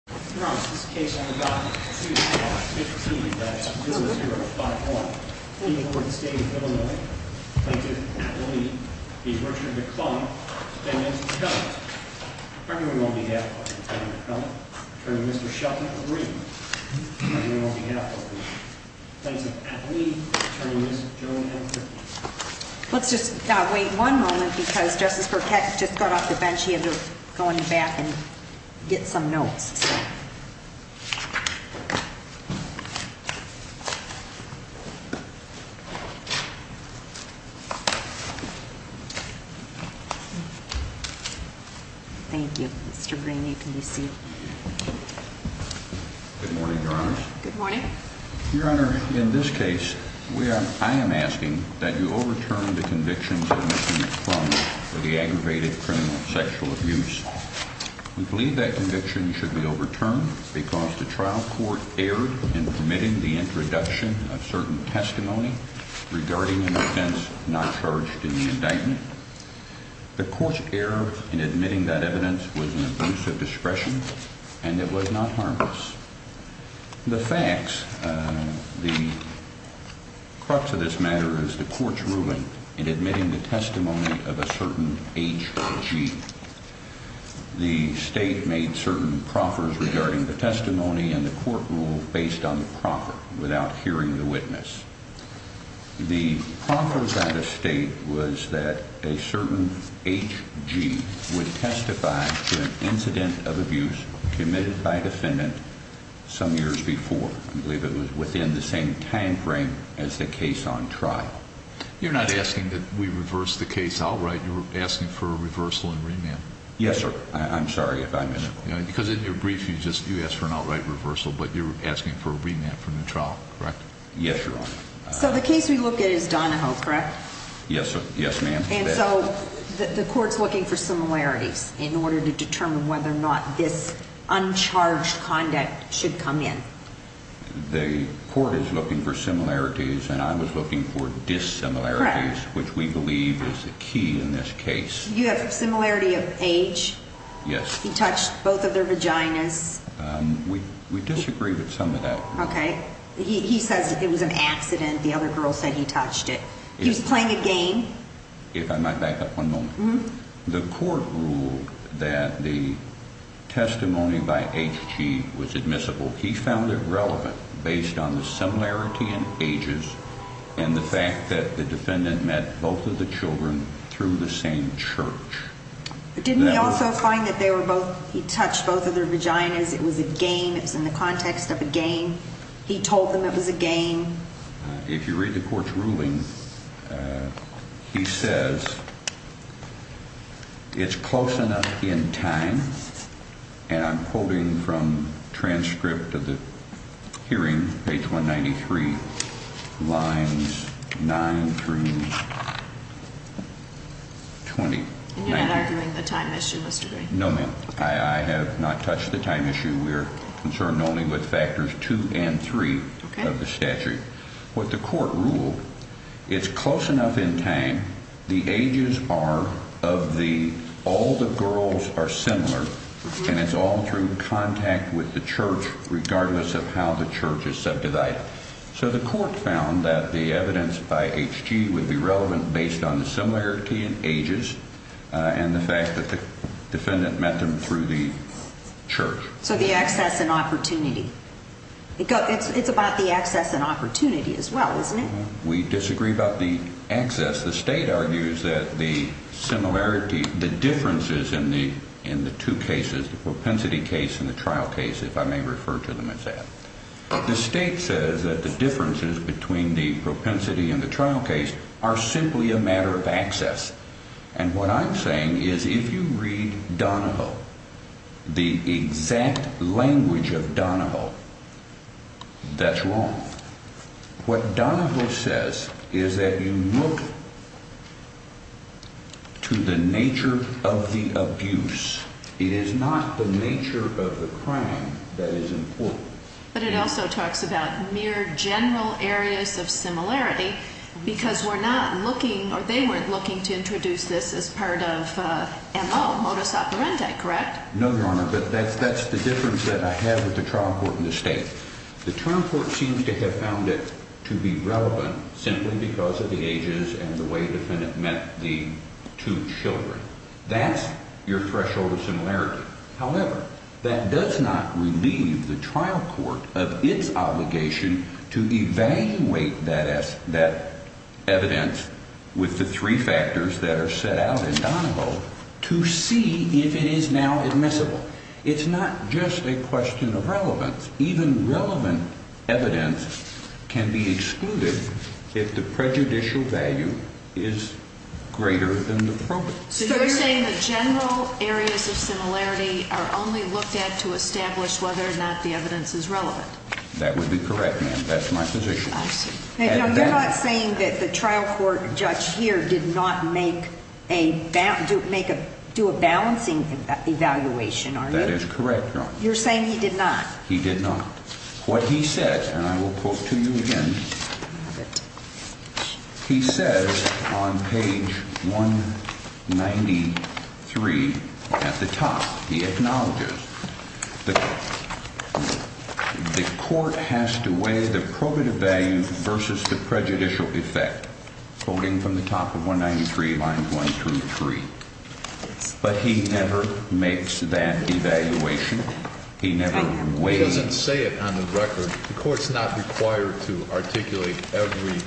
Attorney Shelby re's on behalf of me. Just wait one moment because I'm going to have to go back to my desk and get a new one. Thank you, Mr Green. You can be seated. Good morning, Your Honor. Good morning, Your Honor. In this case, we are I am asking that you overturn the conviction for the aggravated criminal sexual abuse. We believe that conviction should be overturned because the trial court erred in permitting the introduction of certain testimony regarding an offense not charged in the indictment. The court's error in admitting that evidence was an abuse of discretion, and it was not harmless. The facts, the crux of this matter is the court's ruling in admitting the testimony of a certain H. G. The state made certain proffers regarding the testimony and the court rule based on the proper without hearing the witness. The proffers out of state was that a certain H. G. Would testify to an incident of abuse committed by defendant some years before. I believe it was within the same time frame as the case on trial. You're not asking that we reverse the case outright. You're asking for a reversal and remand. Yes, sir. I'm sorry if I'm in it because in your brief, you just you asked for an outright reversal, but you're asking for a remand from the trial, correct? Yes, Your Honor. So the case we look at is Donahoe, correct? Yes, sir. Yes, ma'am. And so the court's looking for similarities in order to determine whether or not this uncharged conduct should come in. The court is looking for similarities, and I was looking for dissimilarities, which we believe is the key in this case. You have a similarity of age? Yes. He touched both of their vaginas. We disagree with some of that. Okay. He says it was an accident. The other girl said he touched it. He's playing a game. If I might back up one moment, the court ruled that the testimony by H. G. Was admissible. He found it relevant based on the similarity in ages and the fact that the defendant met both of the Children through the same church. Didn't he also find that they were both? He touched both of their vaginas. It was a game. It's in the context of a game. He told them it was a game. If you read the court's ruling, he says it's close enough in time, and I'm quoting from transcript of the hearing. Page 1 93 lines nine through 20. You're not arguing the time issue was to be no man. I have not touched the time issue. We're concerned only with factors two and three of the statute. What the court ruled. It's close enough in time. The ages are of the all the girls are similar, and it's all through contact with the church, regardless of how the church is subdivided. So the court found that the evidence by H. G. Would be relevant based on the similarity in ages on the fact that the defendant met them through the church. So the access and opportunity. It's about the access and opportunity as well, isn't it? We disagree about the access. The state argues that the similarity, the differences in the in the two cases, the propensity case in the trial case, if I may refer to them as that, the state says that the differences between the propensity and the trial case are simply a Donoville. That's wrong. What Donoville says is that you look to the nature of the abuse. It is not the nature of the crime that is important, but it also talks about mere general areas of similarity because we're not looking or they weren't looking to introduce this as part of M. O. Modus operandi. Correct? No, Your Honor. But that's that's the difference that I have with the trial court in the state. The trial court seems to have found it to be relevant simply because of the ages and the way defendant met the two Children. That's your threshold of similarity. However, that does not relieve the trial court of its obligation to evaluate that as that evidence with the three factors that are set out in Donoville to see if it is now admissible. It's not just a question of relevance. Even relevant evidence can be excluded if the prejudicial value is greater than the probate. So you're saying the general areas of similarity are only looked at to establish whether or not the evidence is relevant. That would be correct, ma'am. That's my position. You're not saying that the trial court judge here did not make a bank to make a do a balancing evaluation. That is correct. You're saying he did not. He did not. What he said, and I will quote to you again. He says on page 1 93 at the top, he acknowledges the court has to weigh the probative value versus the prejudicial effect, quoting from the top of 1 93 lines 1 through 3. But he never makes that evaluation. He never way doesn't say it on the record. The court's not required to articulate every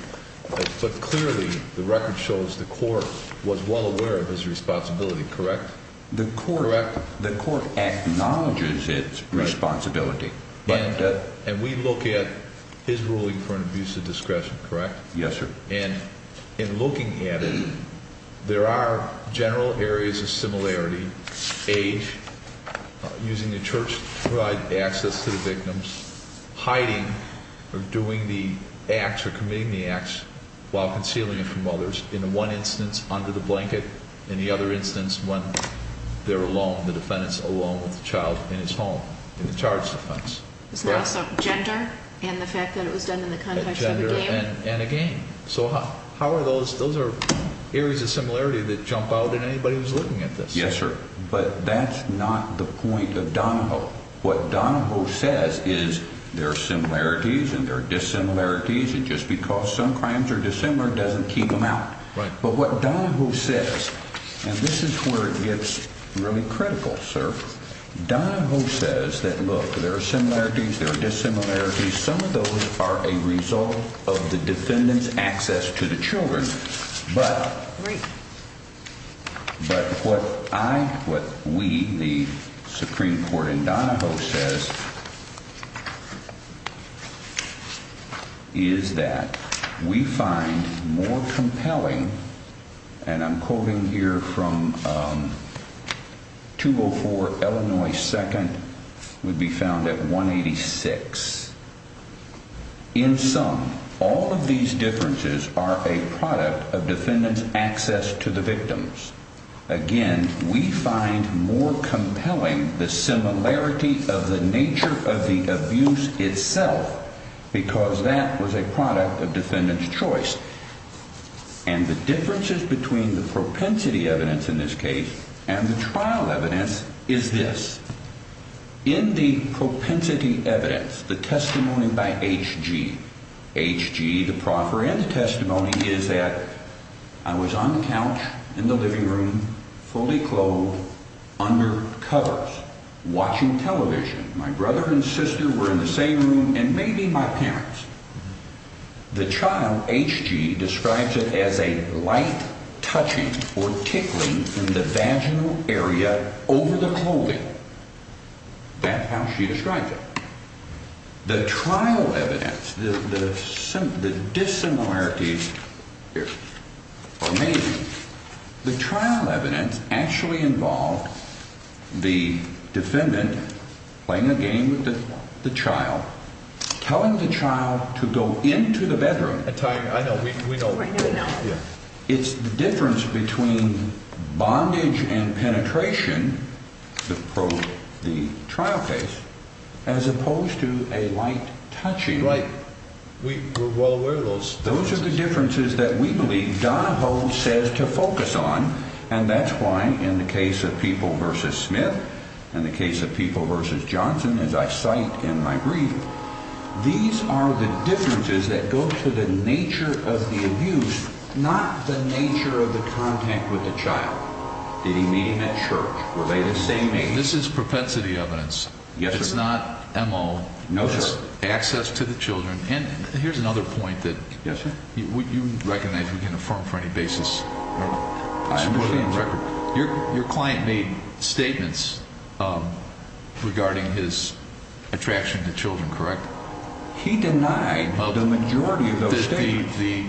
foot. Clearly, the record shows the court was well aware of his responsibility. Correct? The core correct. The court acknowledges its responsibility, and we look at his ruling for an abuse of discretion. Correct? Yes, sir. And in looking at it, there are general areas of similarity age using the church to provide access to the victims hiding or doing the acts or committing the acts while concealing from others in one instance under the blanket and the other instance when they're alone, the defendants alone with the child in his home in the charge defense. Gender and the fact that it was done in the country and again. So how are those? Those are areas of similarity that jump out at anybody who's looking at this? Yes, sir. But that's not the point of Donahoe. What Donahoe says is their similarities and their dissimilarities. And just because some crimes are dissimilar doesn't keep them out. But what Donahoe says, and this is where it gets really critical, sir. Donahoe says that look, there are similarities. There are similarities. Some of those are a result of the defendant's access to the Children. But but what I what we the Supreme Court in Donahoe says is that we find more compelling and I'm quoting here from 204 Illinois. Second would be found at 1 86 in some. All of these differences are a product of defendant's access to the victims. Again, we find more compelling the similarity of the nature of the abuse itself because that was a product of defendant's choice and the and the trial evidence is this. In the propensity evidence, the testimony by H G H G. The proffer in the testimony is that I was on the couch in the living room, fully clothed under covers watching television. My brother and sister were in the same room and maybe my parents. Mhm. The child H G describes it as a light touching or tickling in the vaginal area over the clothing. That's how she describes it. The trial evidence, the dissimilarities amazing. The trial evidence actually involved the defendant playing a game that the child telling the child to go into the bedroom at time. I know we don't know. It's the difference between bondage and penetration. The probe, the trial case as opposed to a light touching like we were well aware of those. Those are the differences that we believe Donahoe says to focus on. And that's why in the case of people versus Smith and the case of people versus Johnson, as I cite in my brief, these are the differences that go to the nature of the abuse, not the nature of the contact with the child. Did he meet him at church? Were they the same? This is propensity evidence. Yes, it's not. M. O. No access to the Children. And here's another point that you recognize we can affirm for any basis. I'm putting record. Your client made statements regarding his attraction to Children. Correct. He denied the majority of the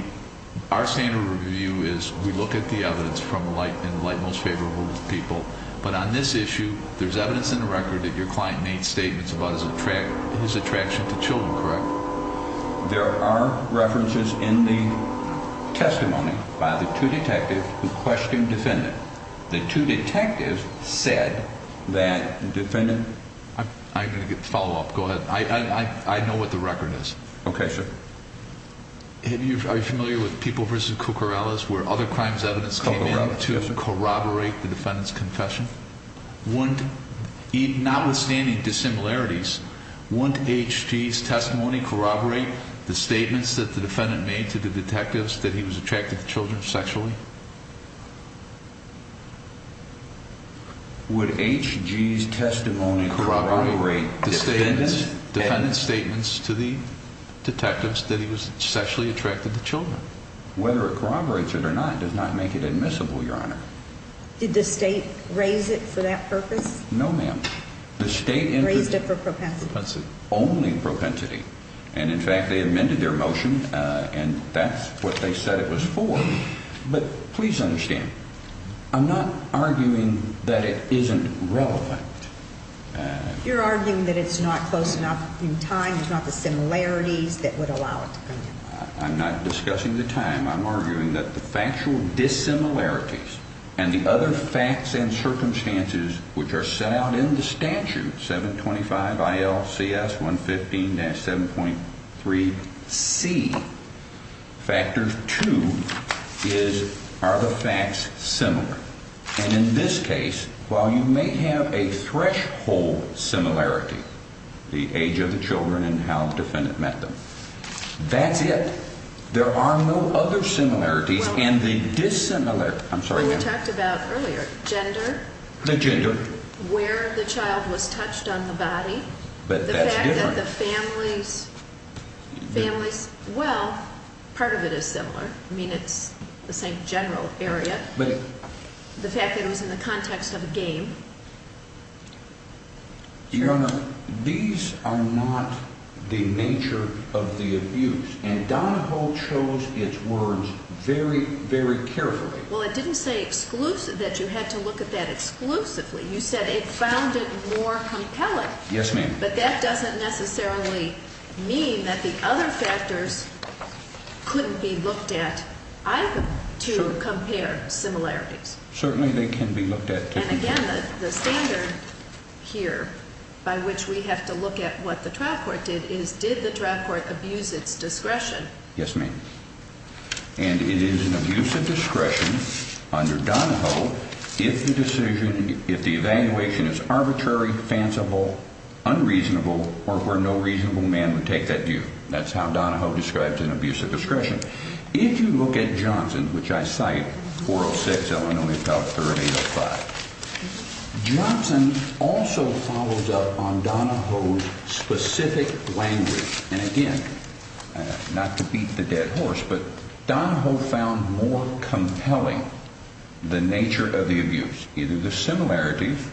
our standard review is we look at the evidence from the light and light most favorable people. But on this issue, there's evidence in the record that your client made statements about his attract his attraction to Children. Correct. There are references in the testimony by the two detectives who questioned defendant. The two detectives said that defendant, I'm gonna get follow up. Go ahead. I know what the record is. Okay, sir. Have you are familiar with people versus Cucarachas, where other crimes evidence to corroborate the defendant's confession? Wouldn't even not withstanding dissimilarities, wouldn't HTS testimony corroborate the defendant made to the detectives that he was attracted to Children sexually? Would H G's testimony corroborate the statements? Defendant's statements to the detectives that he was sexually attracted to Children. Whether it corroborates it or not does not make it admissible. Your honor. Did the state raise it for that purpose? No, ma'am. The state raised it for propensity only propensity. And in fact, they amended their motion. And that's what they said it was for. But please understand, I'm not arguing that it isn't relevant. You're arguing that it's not close enough in time. It's not the similarities that would allow it. I'm not discussing the time. I'm arguing that the factual dissimilarities and the other facts and circumstances which are set out in the CS 1 15 7.3 C factors to is are the facts similar. And in this case, while you may have a threshold similarity, the age of the Children and how the defendant met them, that's it. There are no other similarities and the dissimilar. I'm sorry we talked about earlier gender, the gender where the the families families. Well, part of it is similar. I mean, it's the same general area, but the fact that it was in the context of a game. Your honor, these are not the nature of the abuse, and Donahoe chose its words very, very carefully. Well, it didn't say exclusive that you had to look at that exclusively. You said it found it more compelling. Yes, ma'am. But that doesn't necessarily mean that the other factors couldn't be looked at to compare similarities. Certainly they can be looked at. And again, the standard here by which we have to look at what the trial court did is did the trial and it is an abuse of discretion under Donahoe. If the decision, if the evaluation is arbitrary, fanciful, unreasonable or where no reasonable man would take that view, that's how Donahoe describes an abuse of discretion. If you look at Johnson, which I cite 406 Illinois about 385 Johnson also follows up on Donahoe's specific language. And again, not to beat the dead horse, but Donahoe found more compelling the nature of the abuse, either the similarities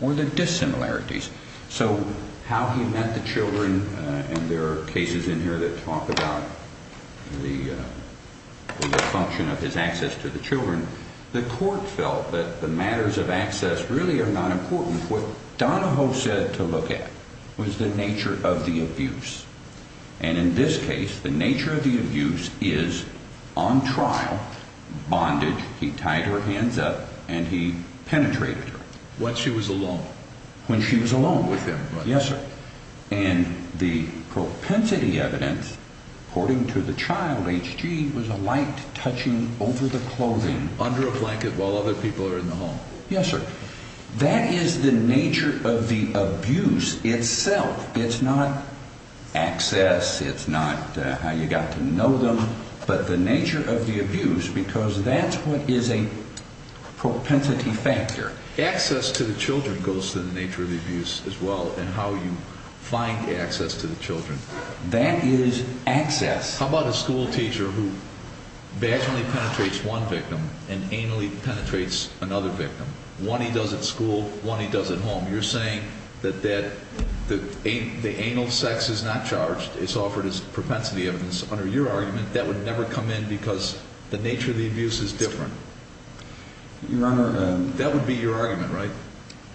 or the dissimilarities. So how he met the Children. And there are cases in here that talk about the function of his access to the Children. The court felt that the matters of access really are important. What Donahoe said to look at was the nature of the abuse. And in this case, the nature of the abuse is on trial bondage. He tied her hands up and he penetrated what she was alone when she was alone with him. Yes, sir. And the propensity evidence, according to the child, H. G. Was a light touching over the clothing under a blanket while other people are in the home. Yes, sir. That is the nature of the abuse itself. It's not access. It's not how you got to know them, but the nature of the abuse, because that's what is a propensity factor. Access to the Children goes to the nature of the abuse as well and how you find access to the Children. That is access. How about a school teacher who vaginally penetrates one victim and anally penetrates another victim? One he does at school. One he does at home. You're saying that that the anal sex is not charged. It's offered his propensity evidence under your argument that would never come in because the nature of the abuse is different. Your Honor, that would be your argument, right?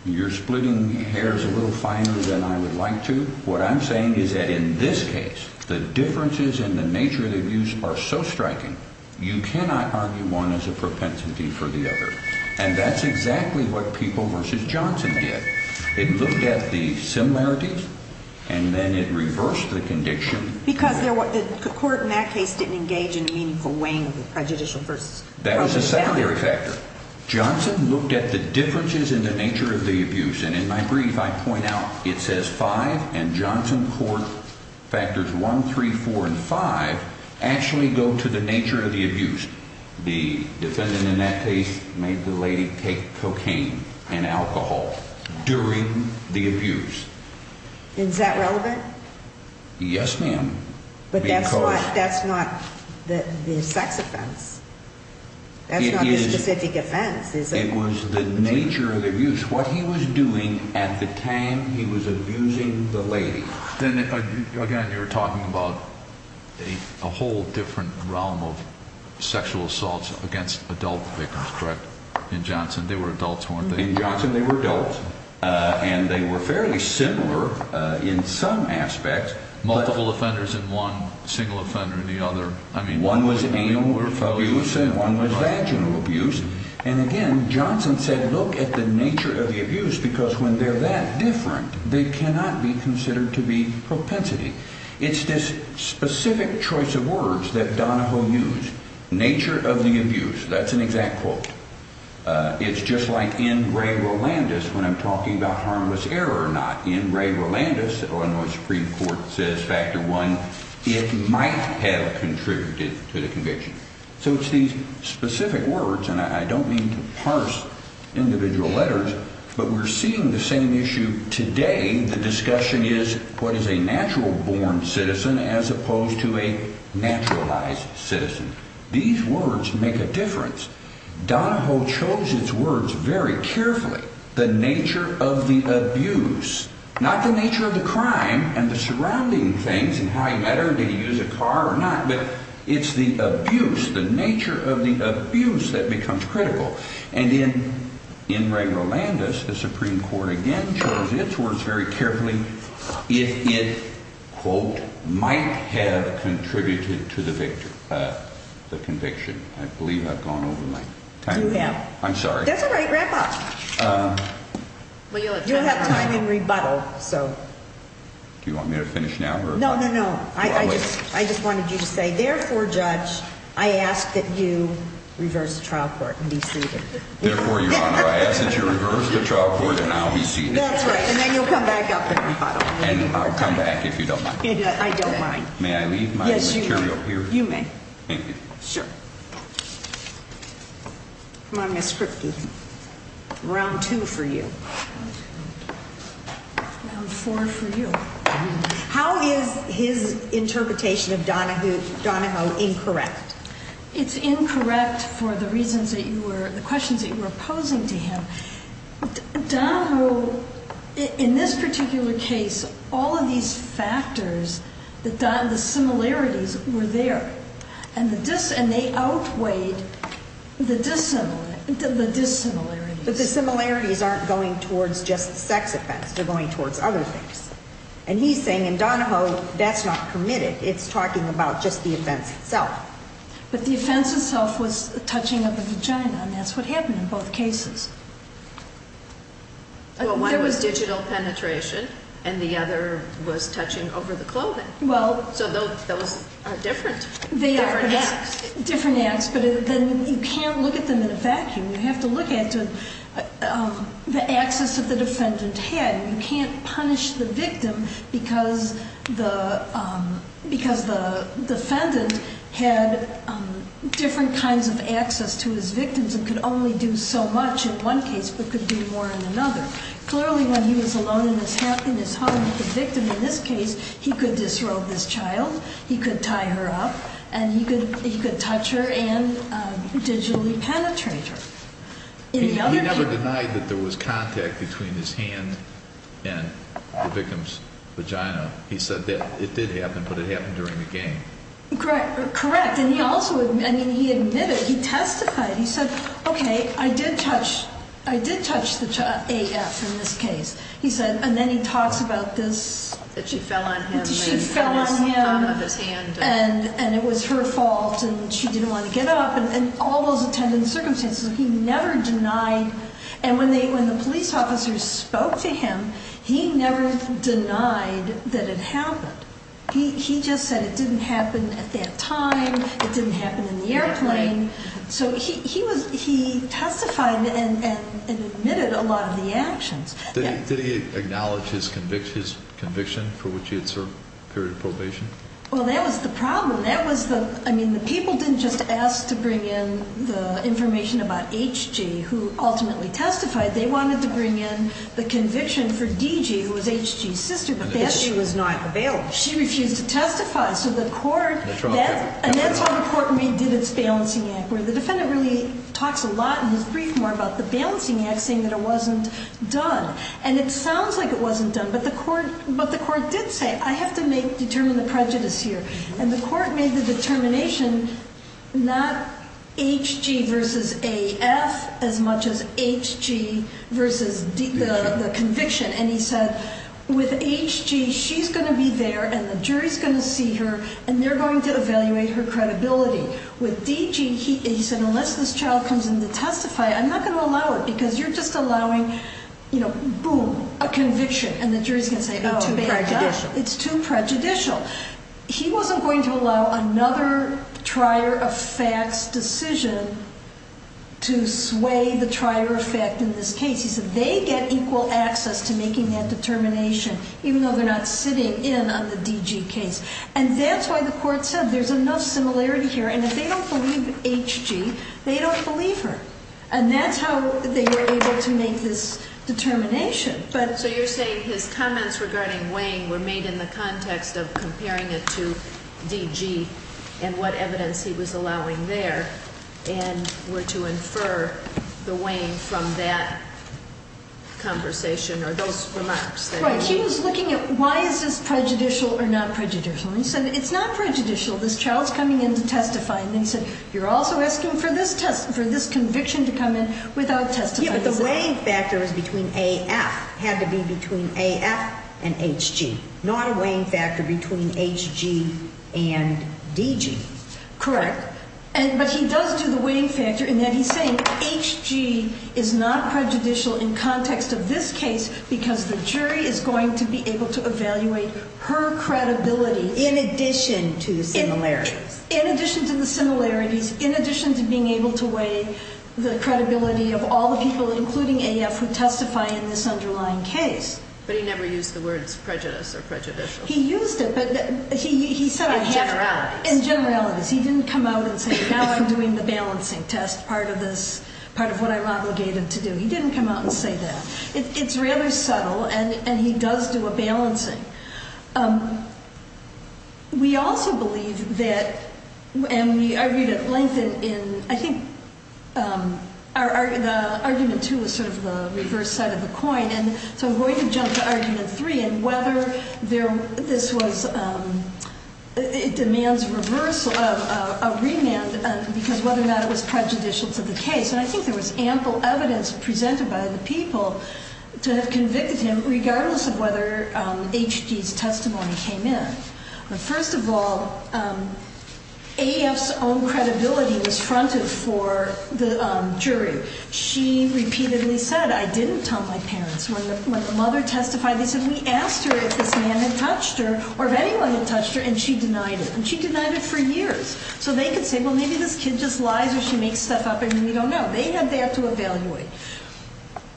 You're splitting hairs a little finer than I would like to. What I'm saying is that in this case, the differences in the nature of the abuse are so striking. You cannot argue one is a propensity for the other, and that's exactly what people versus Johnson did. It looked at the similarities and then it reversed the condition because they're what the court in that case didn't engage in meaningful weighing prejudicial versus that was a salary factor. Johnson looked at the differences in the nature of the abuse. And in my brief, I point out it says five and Johnson court factors 134 and five actually go to the nature of the abuse. The defendant in that case made the lady take cocaine and alcohol during the abuse. Is that relevant? Yes, ma'am. But that's what that's not the sex offense. That's not a specific offense. It was the nature of the abuse. What he was doing at the time he was abusing the lady. Then again, you're talking about a whole different realm of sexual assaults against adult victims, correct? In Johnson, they were adults, weren't they? Johnson. They were adults, and they were fairly similar in some aspects. Multiple offenders in one single offender in the other. I mean, one was a more for you. One was vaginal abuse. And again, Johnson said, Look at the nature of the abuse, because when they're that different, they cannot be considered to be propensity. It's this specific choice of words that Donahoe used nature of the abuse. That's an exact quote. It's just like in Ray Roland is when I'm talking about harmless error, not in Ray Roland is Illinois Supreme Court says Factor one. It might have contributed to the conviction. So it's these specific words, and I don't mean to parse individual letters, but we're seeing the same issue today. The discussion is what is a natural born citizen as opposed to a naturalized citizen? These words make a difference. Donahoe chose its words very carefully. The nature of the abuse, not the nature of the crime and the surrounding things and how he met her. Did he use a car or not? But it's the abuse, the nature of the abuse that becomes critical. And in in Ray Landis, the Supreme Court again chose its words very carefully. If it, quote, might have contributed to the victim, the conviction. I believe I've gone over my time. Yeah, I'm sorry. That's all right. Wrap up. Well, you'll have time in rebuttal. So do you want me to finish now? No, no, no. I just wanted you to say, Therefore, Judge, I ask that you reverse the trial court and be seated. Therefore, Your the trial court and now he's seated. That's right. And then you'll come back up and I'll come back if you don't mind. I don't mind. May I leave my material here? You may. Thank you. Sure. Come on, Mr. Round two for you. I'm four for you. How is his interpretation of Donahue Donahoe incorrect? It's incorrect for the reasons that you were the questions that you were opposing to him. Don, who, in this particular case, all of these factors that done the similarities were there and the diss and they outweighed the dissimilar dissimilarity. But the similarities aren't going towards just sex offense. They're going towards other things. And he's saying in Donahoe that's not permitted. It's talking about just the events itself. But the offense itself was touching of the vagina. And that's what happened in both cases. Well, one was digital penetration and the other was touching over the clothing. Well, so those are different. They are different acts, but then you can't look at them in a vacuum. You have to look at the access of the defendant had. You can't punish the victim because the because the defendant had different kinds of access to his victims and could only do so much in one case, but could do more in another. Clearly, when he was alone in this in this home, the victim in this case, he could disrobe this child. He could tie her up and he could. He could touch her and digitally penetrate her. You never denied that there was contact between his hand and the victim's vagina. He said that it did happen, but it happened during the game. Correct. Correct. And he also he admitted he testified. He said, Okay, I did touch. I did touch the A. F. In this case, he said. And then he talks about this that she fell on him. She fell on him of his hand, and it was her fault, and she didn't want to get up and all those attendant circumstances. He never denied. And when they when the police officers spoke to him, he never denied that it happened. He just said it didn't happen at that time. It didn't happen in the airplane. So he was he testified and admitted a lot of the actions. Did he acknowledge his convictions conviction for which it's a period of probation? Well, that was the problem. That was the I mean, the people didn't just ask to bring in the information about H. G. Who ultimately testified they wanted to bring in the conviction for D. G. Who was H. G. Sister, but that she was not available. She refused to testify. So the court and that's what important. We did its balancing act where the defendant really talks a lot in his brief more about the balancing act, saying that it wasn't done, and it sounds like it wasn't done. But the court but the court did say I have to make determine the prejudice here, and the court made the determination not H. G. Versus a F as much as H. G. Versus the conviction. And he said with H. G. She's gonna be there, and the jury's gonna see her, and they're going to evaluate her credibility with D. G. He said, Unless this child comes in to testify, I'm not gonna allow it because you're just allowing, you know, boom, a conviction, and the jury's gonna say, Oh, it's too prejudicial. He wasn't going to allow another trier of facts decision to sway the trier effect. In this case, he said they get equal access to making that determination, even though they're not sitting in on the D. G. Case, and that's why the court said there's enough similarity here, and if they don't believe H. G. They don't believe her, and that's how they were able to make this determination. But so you're saying his comments regarding weighing were made in the context of comparing it to D. G. And what evidence he was allowing there and were to infer the weighing from that conversation or those remarks that he was looking at. Why is this prejudicial or not prejudicial? And so it's not prejudicial. This child's coming in to testify, and they said, You're also asking for this test for this conviction to come in without testifying. The weighing factors between a F had to be between a F and H. G. Not a weighing factor between H. G. And D. G. Correct. But he does do the weighing factor in that he's saying H. G. Is not prejudicial in context of this case because the jury is going to be able to evaluate her credibility in addition to the similarities in addition to the similarities, in addition to being able to weigh the credibility of all the people, including a F who testify in this underlying case. But he never used the words prejudice or prejudicial. He used it, but he said in generalities, he didn't come out and say, Now I'm doing the balancing test. Part of this part of what I'm obligated to do. He didn't come out and say that it's rather subtle, and he does do a balancing. Um, we also believe that and we are going to lengthen in. I think, um, our argument to a sort of the reverse side of the coin. And so I'm going to jump to argument three and whether there this was, um, it demands reversal of a remand because whether or not it was prejudicial to the case, and I think there was ample evidence presented by the people to have convicted him, regardless of whether H. G.'s testimony came in. But first of all, um, a F's own credibility was fronted for the jury. She repeatedly said, I didn't tell my parents when the mother testified. They said we asked her if this man had touched her or if anyone had touched her, and she denied it, and she denied it for years. So they could say, Well, maybe this kid just lies or she makes stuff up, and we don't know they had. They have to evaluate.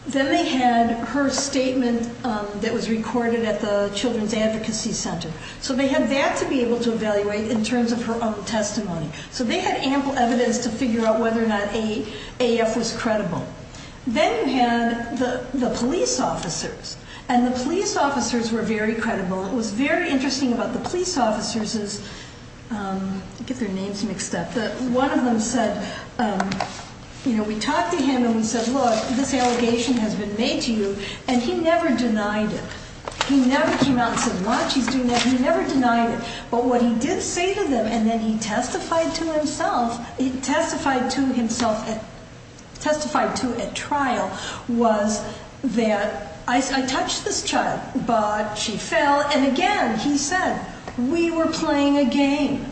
Then they had her statement that was recorded at the Children's Advocacy Center. So they had that to be able to evaluate in terms of her own They had ample evidence to figure out whether or not a F was credible. Then you had the police officers and the police officers were very credible. It was very interesting about the police officers is, um, get their names mixed up. The one of them said, you know, we talked to him and we said, Look, this allegation has been made to you, and he never denied it. He never came out and said much. He's doing that. He never denied it. But what he did say to them and then he testified to himself, testified to himself, testified to a trial was that I touched this child, but she fell. And again, he said we were playing a game.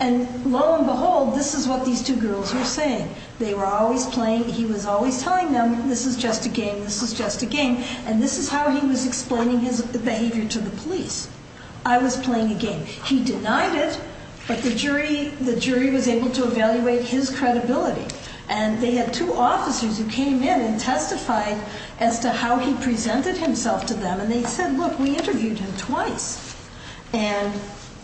And lo and behold, this is what these two girls were saying. They were always playing. He was always telling them this is just a game. This was just a game. And this is how he was explaining his behavior to the police. I was playing a game. He denied it. But the jury, the jury was able to evaluate his credibility. And they had two officers who came in and testified as to how he presented himself to them. And they said, Look, we interviewed him twice. And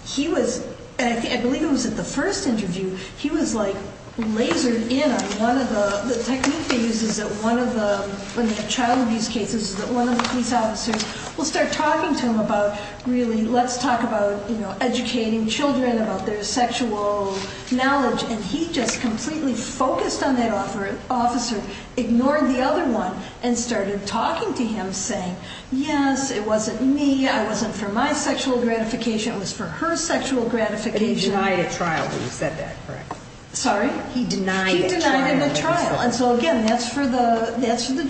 he was, I believe it was at the first interview. He was, like, lasered in on one of the technique they use is that one of the child abuse cases that one of the police officers will start talking to him about. Really, let's talk about educating Children about their sexual knowledge. And he just completely focused on that offer. Officer ignored the other one and started talking to him, saying, Yes, it wasn't me. I wasn't for my sexual gratification was for her sexual gratification. I a trial. You said that correct? Sorry, he denied the trial. And so again, that's for the that's the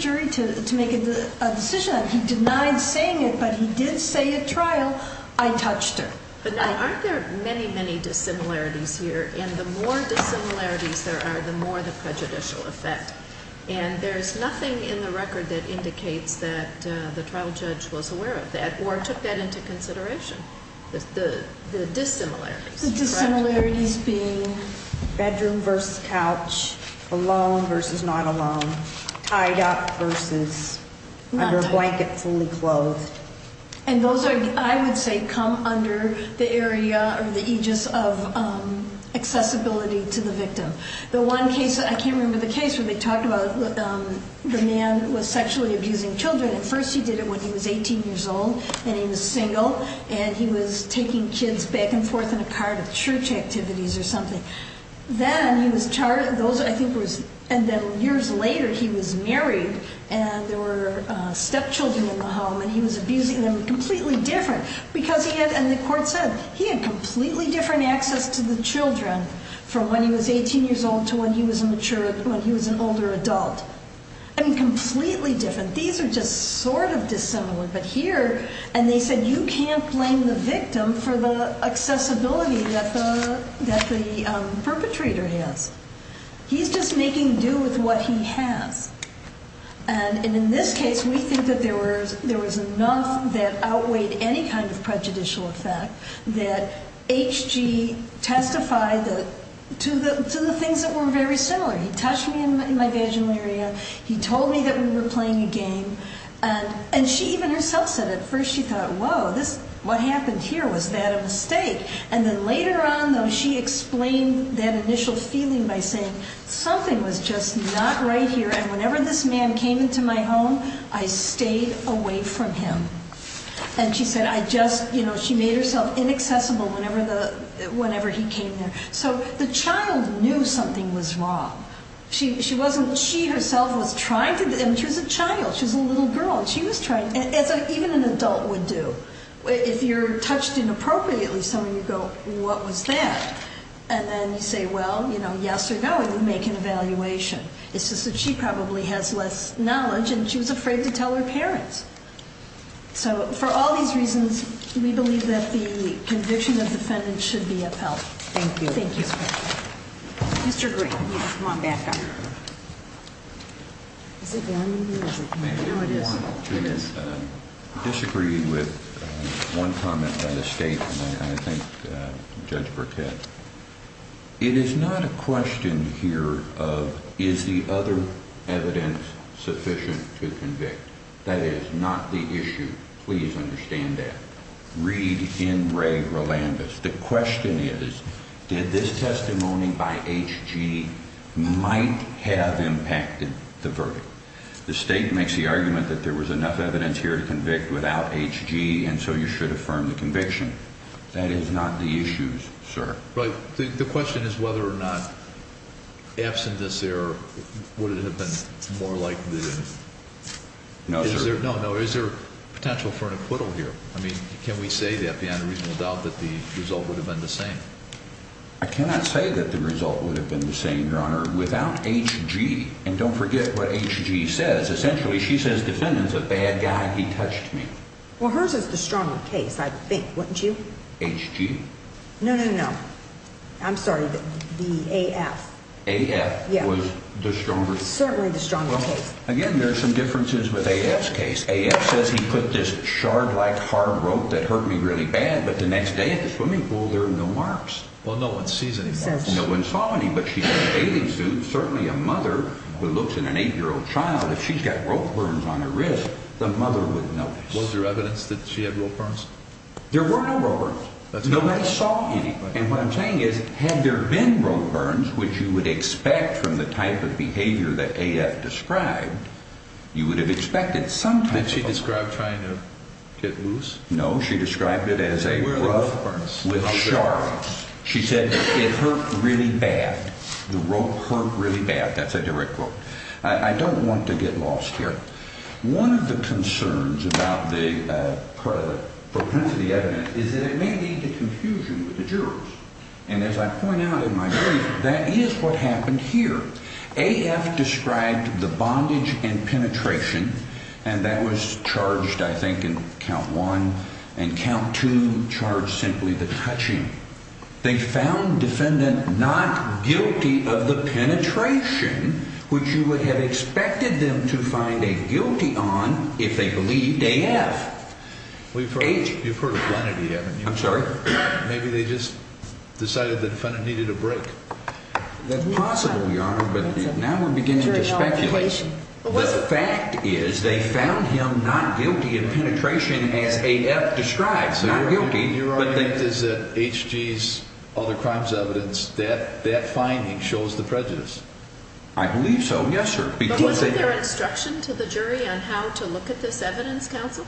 trial. I touched her. But now aren't there many, many dissimilarities here in the more dissimilarities there are, the more the prejudicial effect. And there's nothing in the record that indicates that the trial judge was aware of that or took that into consideration. The dissimilarities being bedroom versus couch alone versus not alone. Tied up versus under a blanket, fully clothed. And those are, I would say, come under the area or the aegis of accessibility to the victim. The one case I can't remember the case where they talked about the man was sexually abusing Children. At first he did it when he was 18 years old and he was single and he was taking kids back and forth in a card of church activities or something. Then he was charged. Those I think it was. And then years later he was stepchildren in the home and he was abusing them completely different because he had and the court said he had completely different access to the Children from when he was 18 years old to when he was a mature when he was an older adult and completely different. These are just sort of dissimilar. But here and they said, you can't blame the victim for the accessibility that the that the perpetrator has. He's just making do with what he has. And in this case, we think that there was there was enough that outweighed any kind of prejudicial effect that H. G. Testify that to the to the things that were very similar. He touched me in my vaginal area. He told me that we were playing a game and and she even herself said at first she thought, Whoa, this what happened here was that a mistake? And then later on, though, she explained that initial feeling by saying something was just not right here. And whenever this man came into my home, I stayed away from him. And she said, I just, you know, she made herself inaccessible whenever the whenever he came there. So the child knew something was wrong. She wasn't she herself was trying to. And she was a child. She's a little girl. She was trying as even an adult would do if you're touched inappropriately. So you go, What was that? And then you say, Well, you know, yes or no, we make an evaluation. It's just that she probably has less knowledge and she was afraid to tell her parents. So for all these reasons, we believe that the conviction of defendants should be upheld. Thank you. Thank you, Mr. Green. Come on back. Is it? It is. It is disagree with one comment by the state. I think Judge Burkett it is not a question here. Is the other evidence sufficient to convict? That is not the issue. Please understand that. Read in Ray Rolando's. The question is, did this testimony by H G might have impacted the verdict? The state makes the argument that there was enough evidence here to convict without H G. And so you should affirm the conviction. That is not the issues, sir. But the question is whether or not absent this error, would it have been more like this? No, sir. No, no. Is there potential for an acquittal here? I mean, can we say that the unreasonable doubt that the result would have been the same? I cannot say that the result would have been the same your honor without H G. And don't forget what H G says. Essentially, she says defendants a bad guy. He touched me. Well, hers is the stronger case. I think wouldn't you? H G. No, no, no. I'm sorry. The A. F. A. F. Was the strongest. Certainly the stronger case. Again, there's some differences with a S case. A. S. Says he put this shard like hard rope that hurt me really bad. But the next day at the swimming pool, there are no marks. Well, no one sees it. No one saw any. But she's a bathing suit. Certainly a mother who looks in an eight year old child. If she's got rope burns on her wrist, the mother would know. Was there evidence that she had rope burns? There were no rovers. Nobody saw anybody. And what I'm saying is, had there been rope burns, which you would expect from the type of behavior that A. F. Described, you would have expected. Sometimes she described trying to get loose. No, she described it as a with sharks. She said it hurt really bad. The rope hurt really bad. That's a direct quote. I don't want to get lost here. One of the concerns about the propensity evidence is that it may be the confusion with the jurors. And as I point out in my brief, that is what happened here. A. F. Described the bondage and penetration, and that was charged, I think, in count one and count to charge simply the touching. They found defendant not guilty of the penetration, which you would have expected them to find a guilty on if they believed A. F. We've heard you've heard of plenty. I'm sorry. Maybe they just decided the defendant needed a break. That's possible, Your Honor. But now we're beginning to speculate. The fact is they found him not guilty of penetration as a F. Describes not guilty. Your argument is that H. G.'s other crimes evidence that that finding shows the prejudice. I believe so. Yes, sir. Because there is instruction to the jury on how to look at this evidence. Council,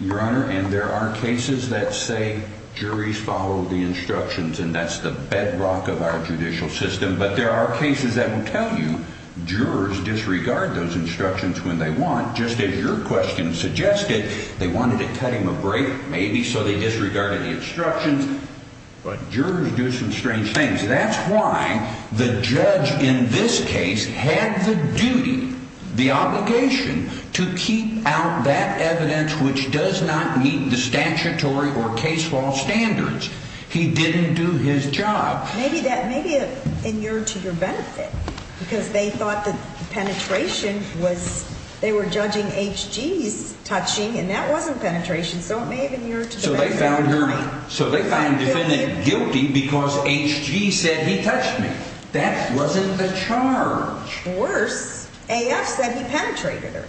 Your Honor. And there are cases that say juries follow the instructions, and that's the bedrock of our judicial system. But there are cases that will tell you jurors disregard those instructions when they want. Just as your question suggested, they wanted to cut him a break, maybe so they disregarded the instructions. But jurors do some strange things. That's why the judge in this case had the duty, the obligation to keep out that evidence which does not meet the statutory or case law standards. He didn't do his job. Maybe that maybe in your to your benefit, because they thought the penetration was they were judging H. G.'s touching, and that wasn't penetration. So it may have been your so they found defendant guilty because H. G. said he touched me. That wasn't the charge. Worse. A. F. said he penetrated her,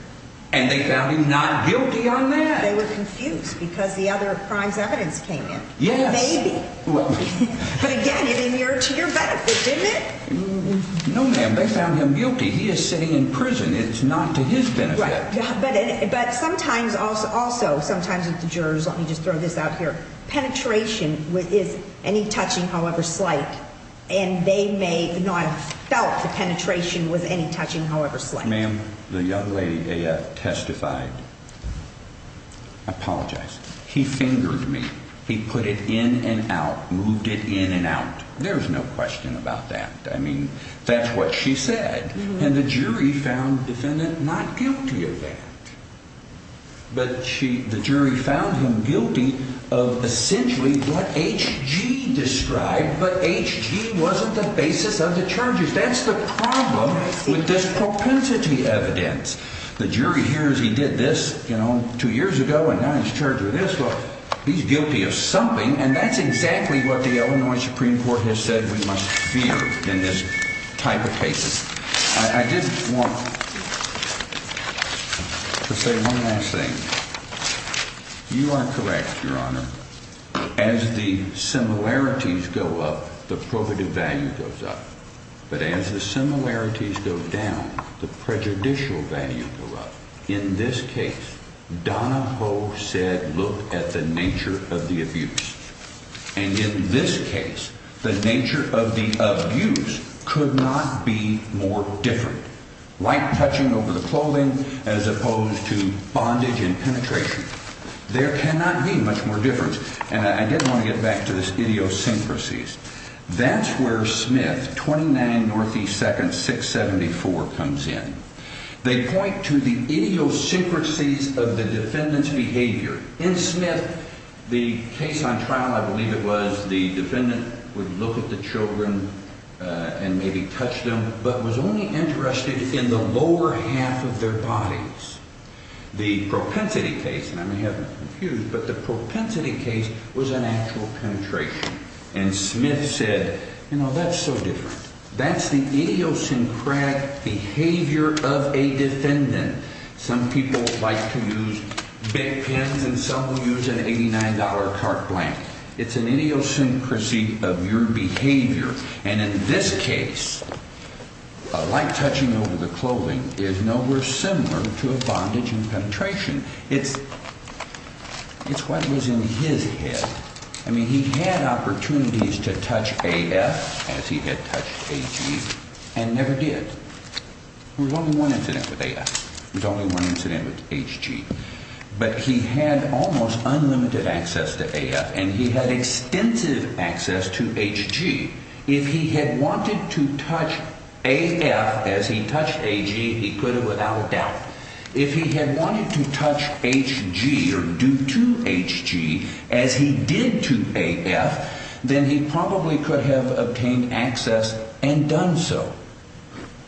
and they found him not guilty on that. They were confused because the other crimes evidence came in. Yes, maybe. But again, it in your to your benefit, didn't it? No, ma'am. They found him guilty. He is sitting in prison. It's not to his benefit. But sometimes also sometimes with the jurors, let me just throw this out here. Penetration with is any touching, however slight, and they may not have felt the penetration with any touching, however slight. Ma'am, the young lady A. F. Testified. Apologize. He fingered me. He put it in and out, moved it in and out. There's no question about that. I mean, that's what she said. And the jury found defendant not guilty of that. But she the jury found him guilty of essentially what H. G. described. But H. G. wasn't the basis of the charges. That's the problem with this propensity evidence. The jury hears he did this, you know, two years ago, and now he's charged with this. Look, he's guilty of something, and that's exactly what the Illinois Supreme Court has said. We must fear in this type of cases. I didn't want to say one last thing. You are correct, Your Honor. As the similarities go up, the prohibitive value goes up. But as the similarities go down, the prejudicial value in this case, Donna Poe said, Look at the nature of the abuse. And in this case, the nature of the abuse could not be more different, like touching over the clothing as opposed to bondage and penetration. There cannot be much more difference. And I didn't want to get back to this idiosyncrasies. That's where Smith 29 Northeast 2nd 6 74 comes in. They point to the idiosyncrasies of the defendant's behavior in Smith. The case on trial, I believe it was the defendant would look at the Children on maybe touch them, but was only interested in the lower half of their bodies. The propensity case, and I may have confused, but the propensity case was an actual penetration. And Smith said, You know, that's so different. That's the idiosyncratic behavior of a defendant. Some people like to use big pens, and some will use an $89 cart blank. It's an idiosyncrasy of your behavior. And in this case, like touching over the clothing is nowhere similar to a bondage and penetration. It's it's what was in his head. I mean, he had opportunities to touch a F as he had touched a G and never did. There's only one incident with a There's only one incident with H G, but he had almost unlimited access to a F and he had extensive access to H G. If he had wanted to touch a F as he touched a G, he could have without a doubt. If he had wanted to touch H G or due to H G as he did to a F, then he probably could have obtained access and done so.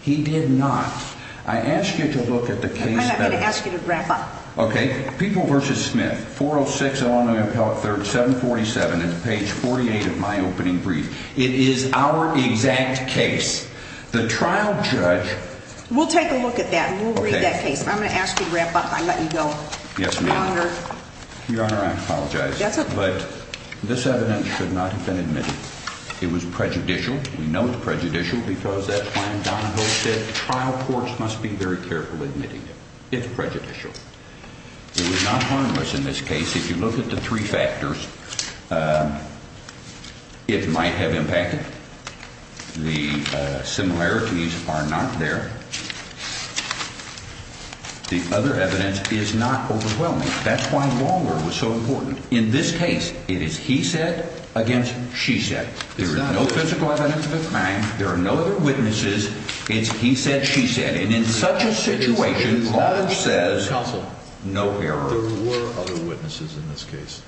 He did not. I asked you to look at the case. I'm gonna ask you to wrap up. Okay, people versus Smith. 406, Illinois Appellate 37 47 page 48 of my opening brief. It is our exact case. The trial judge. We'll take a look at that. We'll read that case. I'm gonna ask you to wrap up. I let you go. Yes, ma'am. Your honor, I apologize, but this evidence should not have been admitted. It was trial. Courts must be very careful admitting it's prejudicial. It was not harmless in this case. If you look at the three factors, it might have impacted. The similarities are not there. The other evidence is not overwhelming. That's why longer was so important. In this case, it is he said against, she said there is no physical evidence of no other witnesses. It's he said, she said. And in such a situation, says no air witnesses in this case.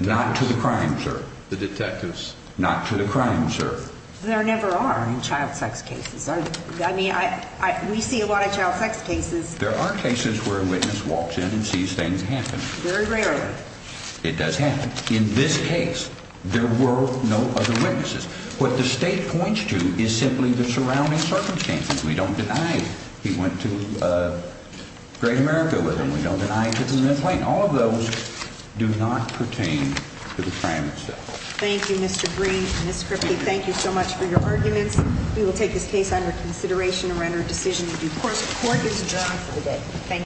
Not to the crime, sir. The detectives not to the crime, sir. There never are child sex cases. I mean, we see a lot of child sex cases. There are cases where a witness walks in and sees things happen very rarely. It does happen in this case. There were no other state points to is simply the surrounding circumstances. We don't deny he went to Great America with him. We don't deny it. All of those do not pertain to the crime itself. Thank you, Mr Green. Thank you so much for your arguments. We will take this case under consideration and render a decision. Of course, court is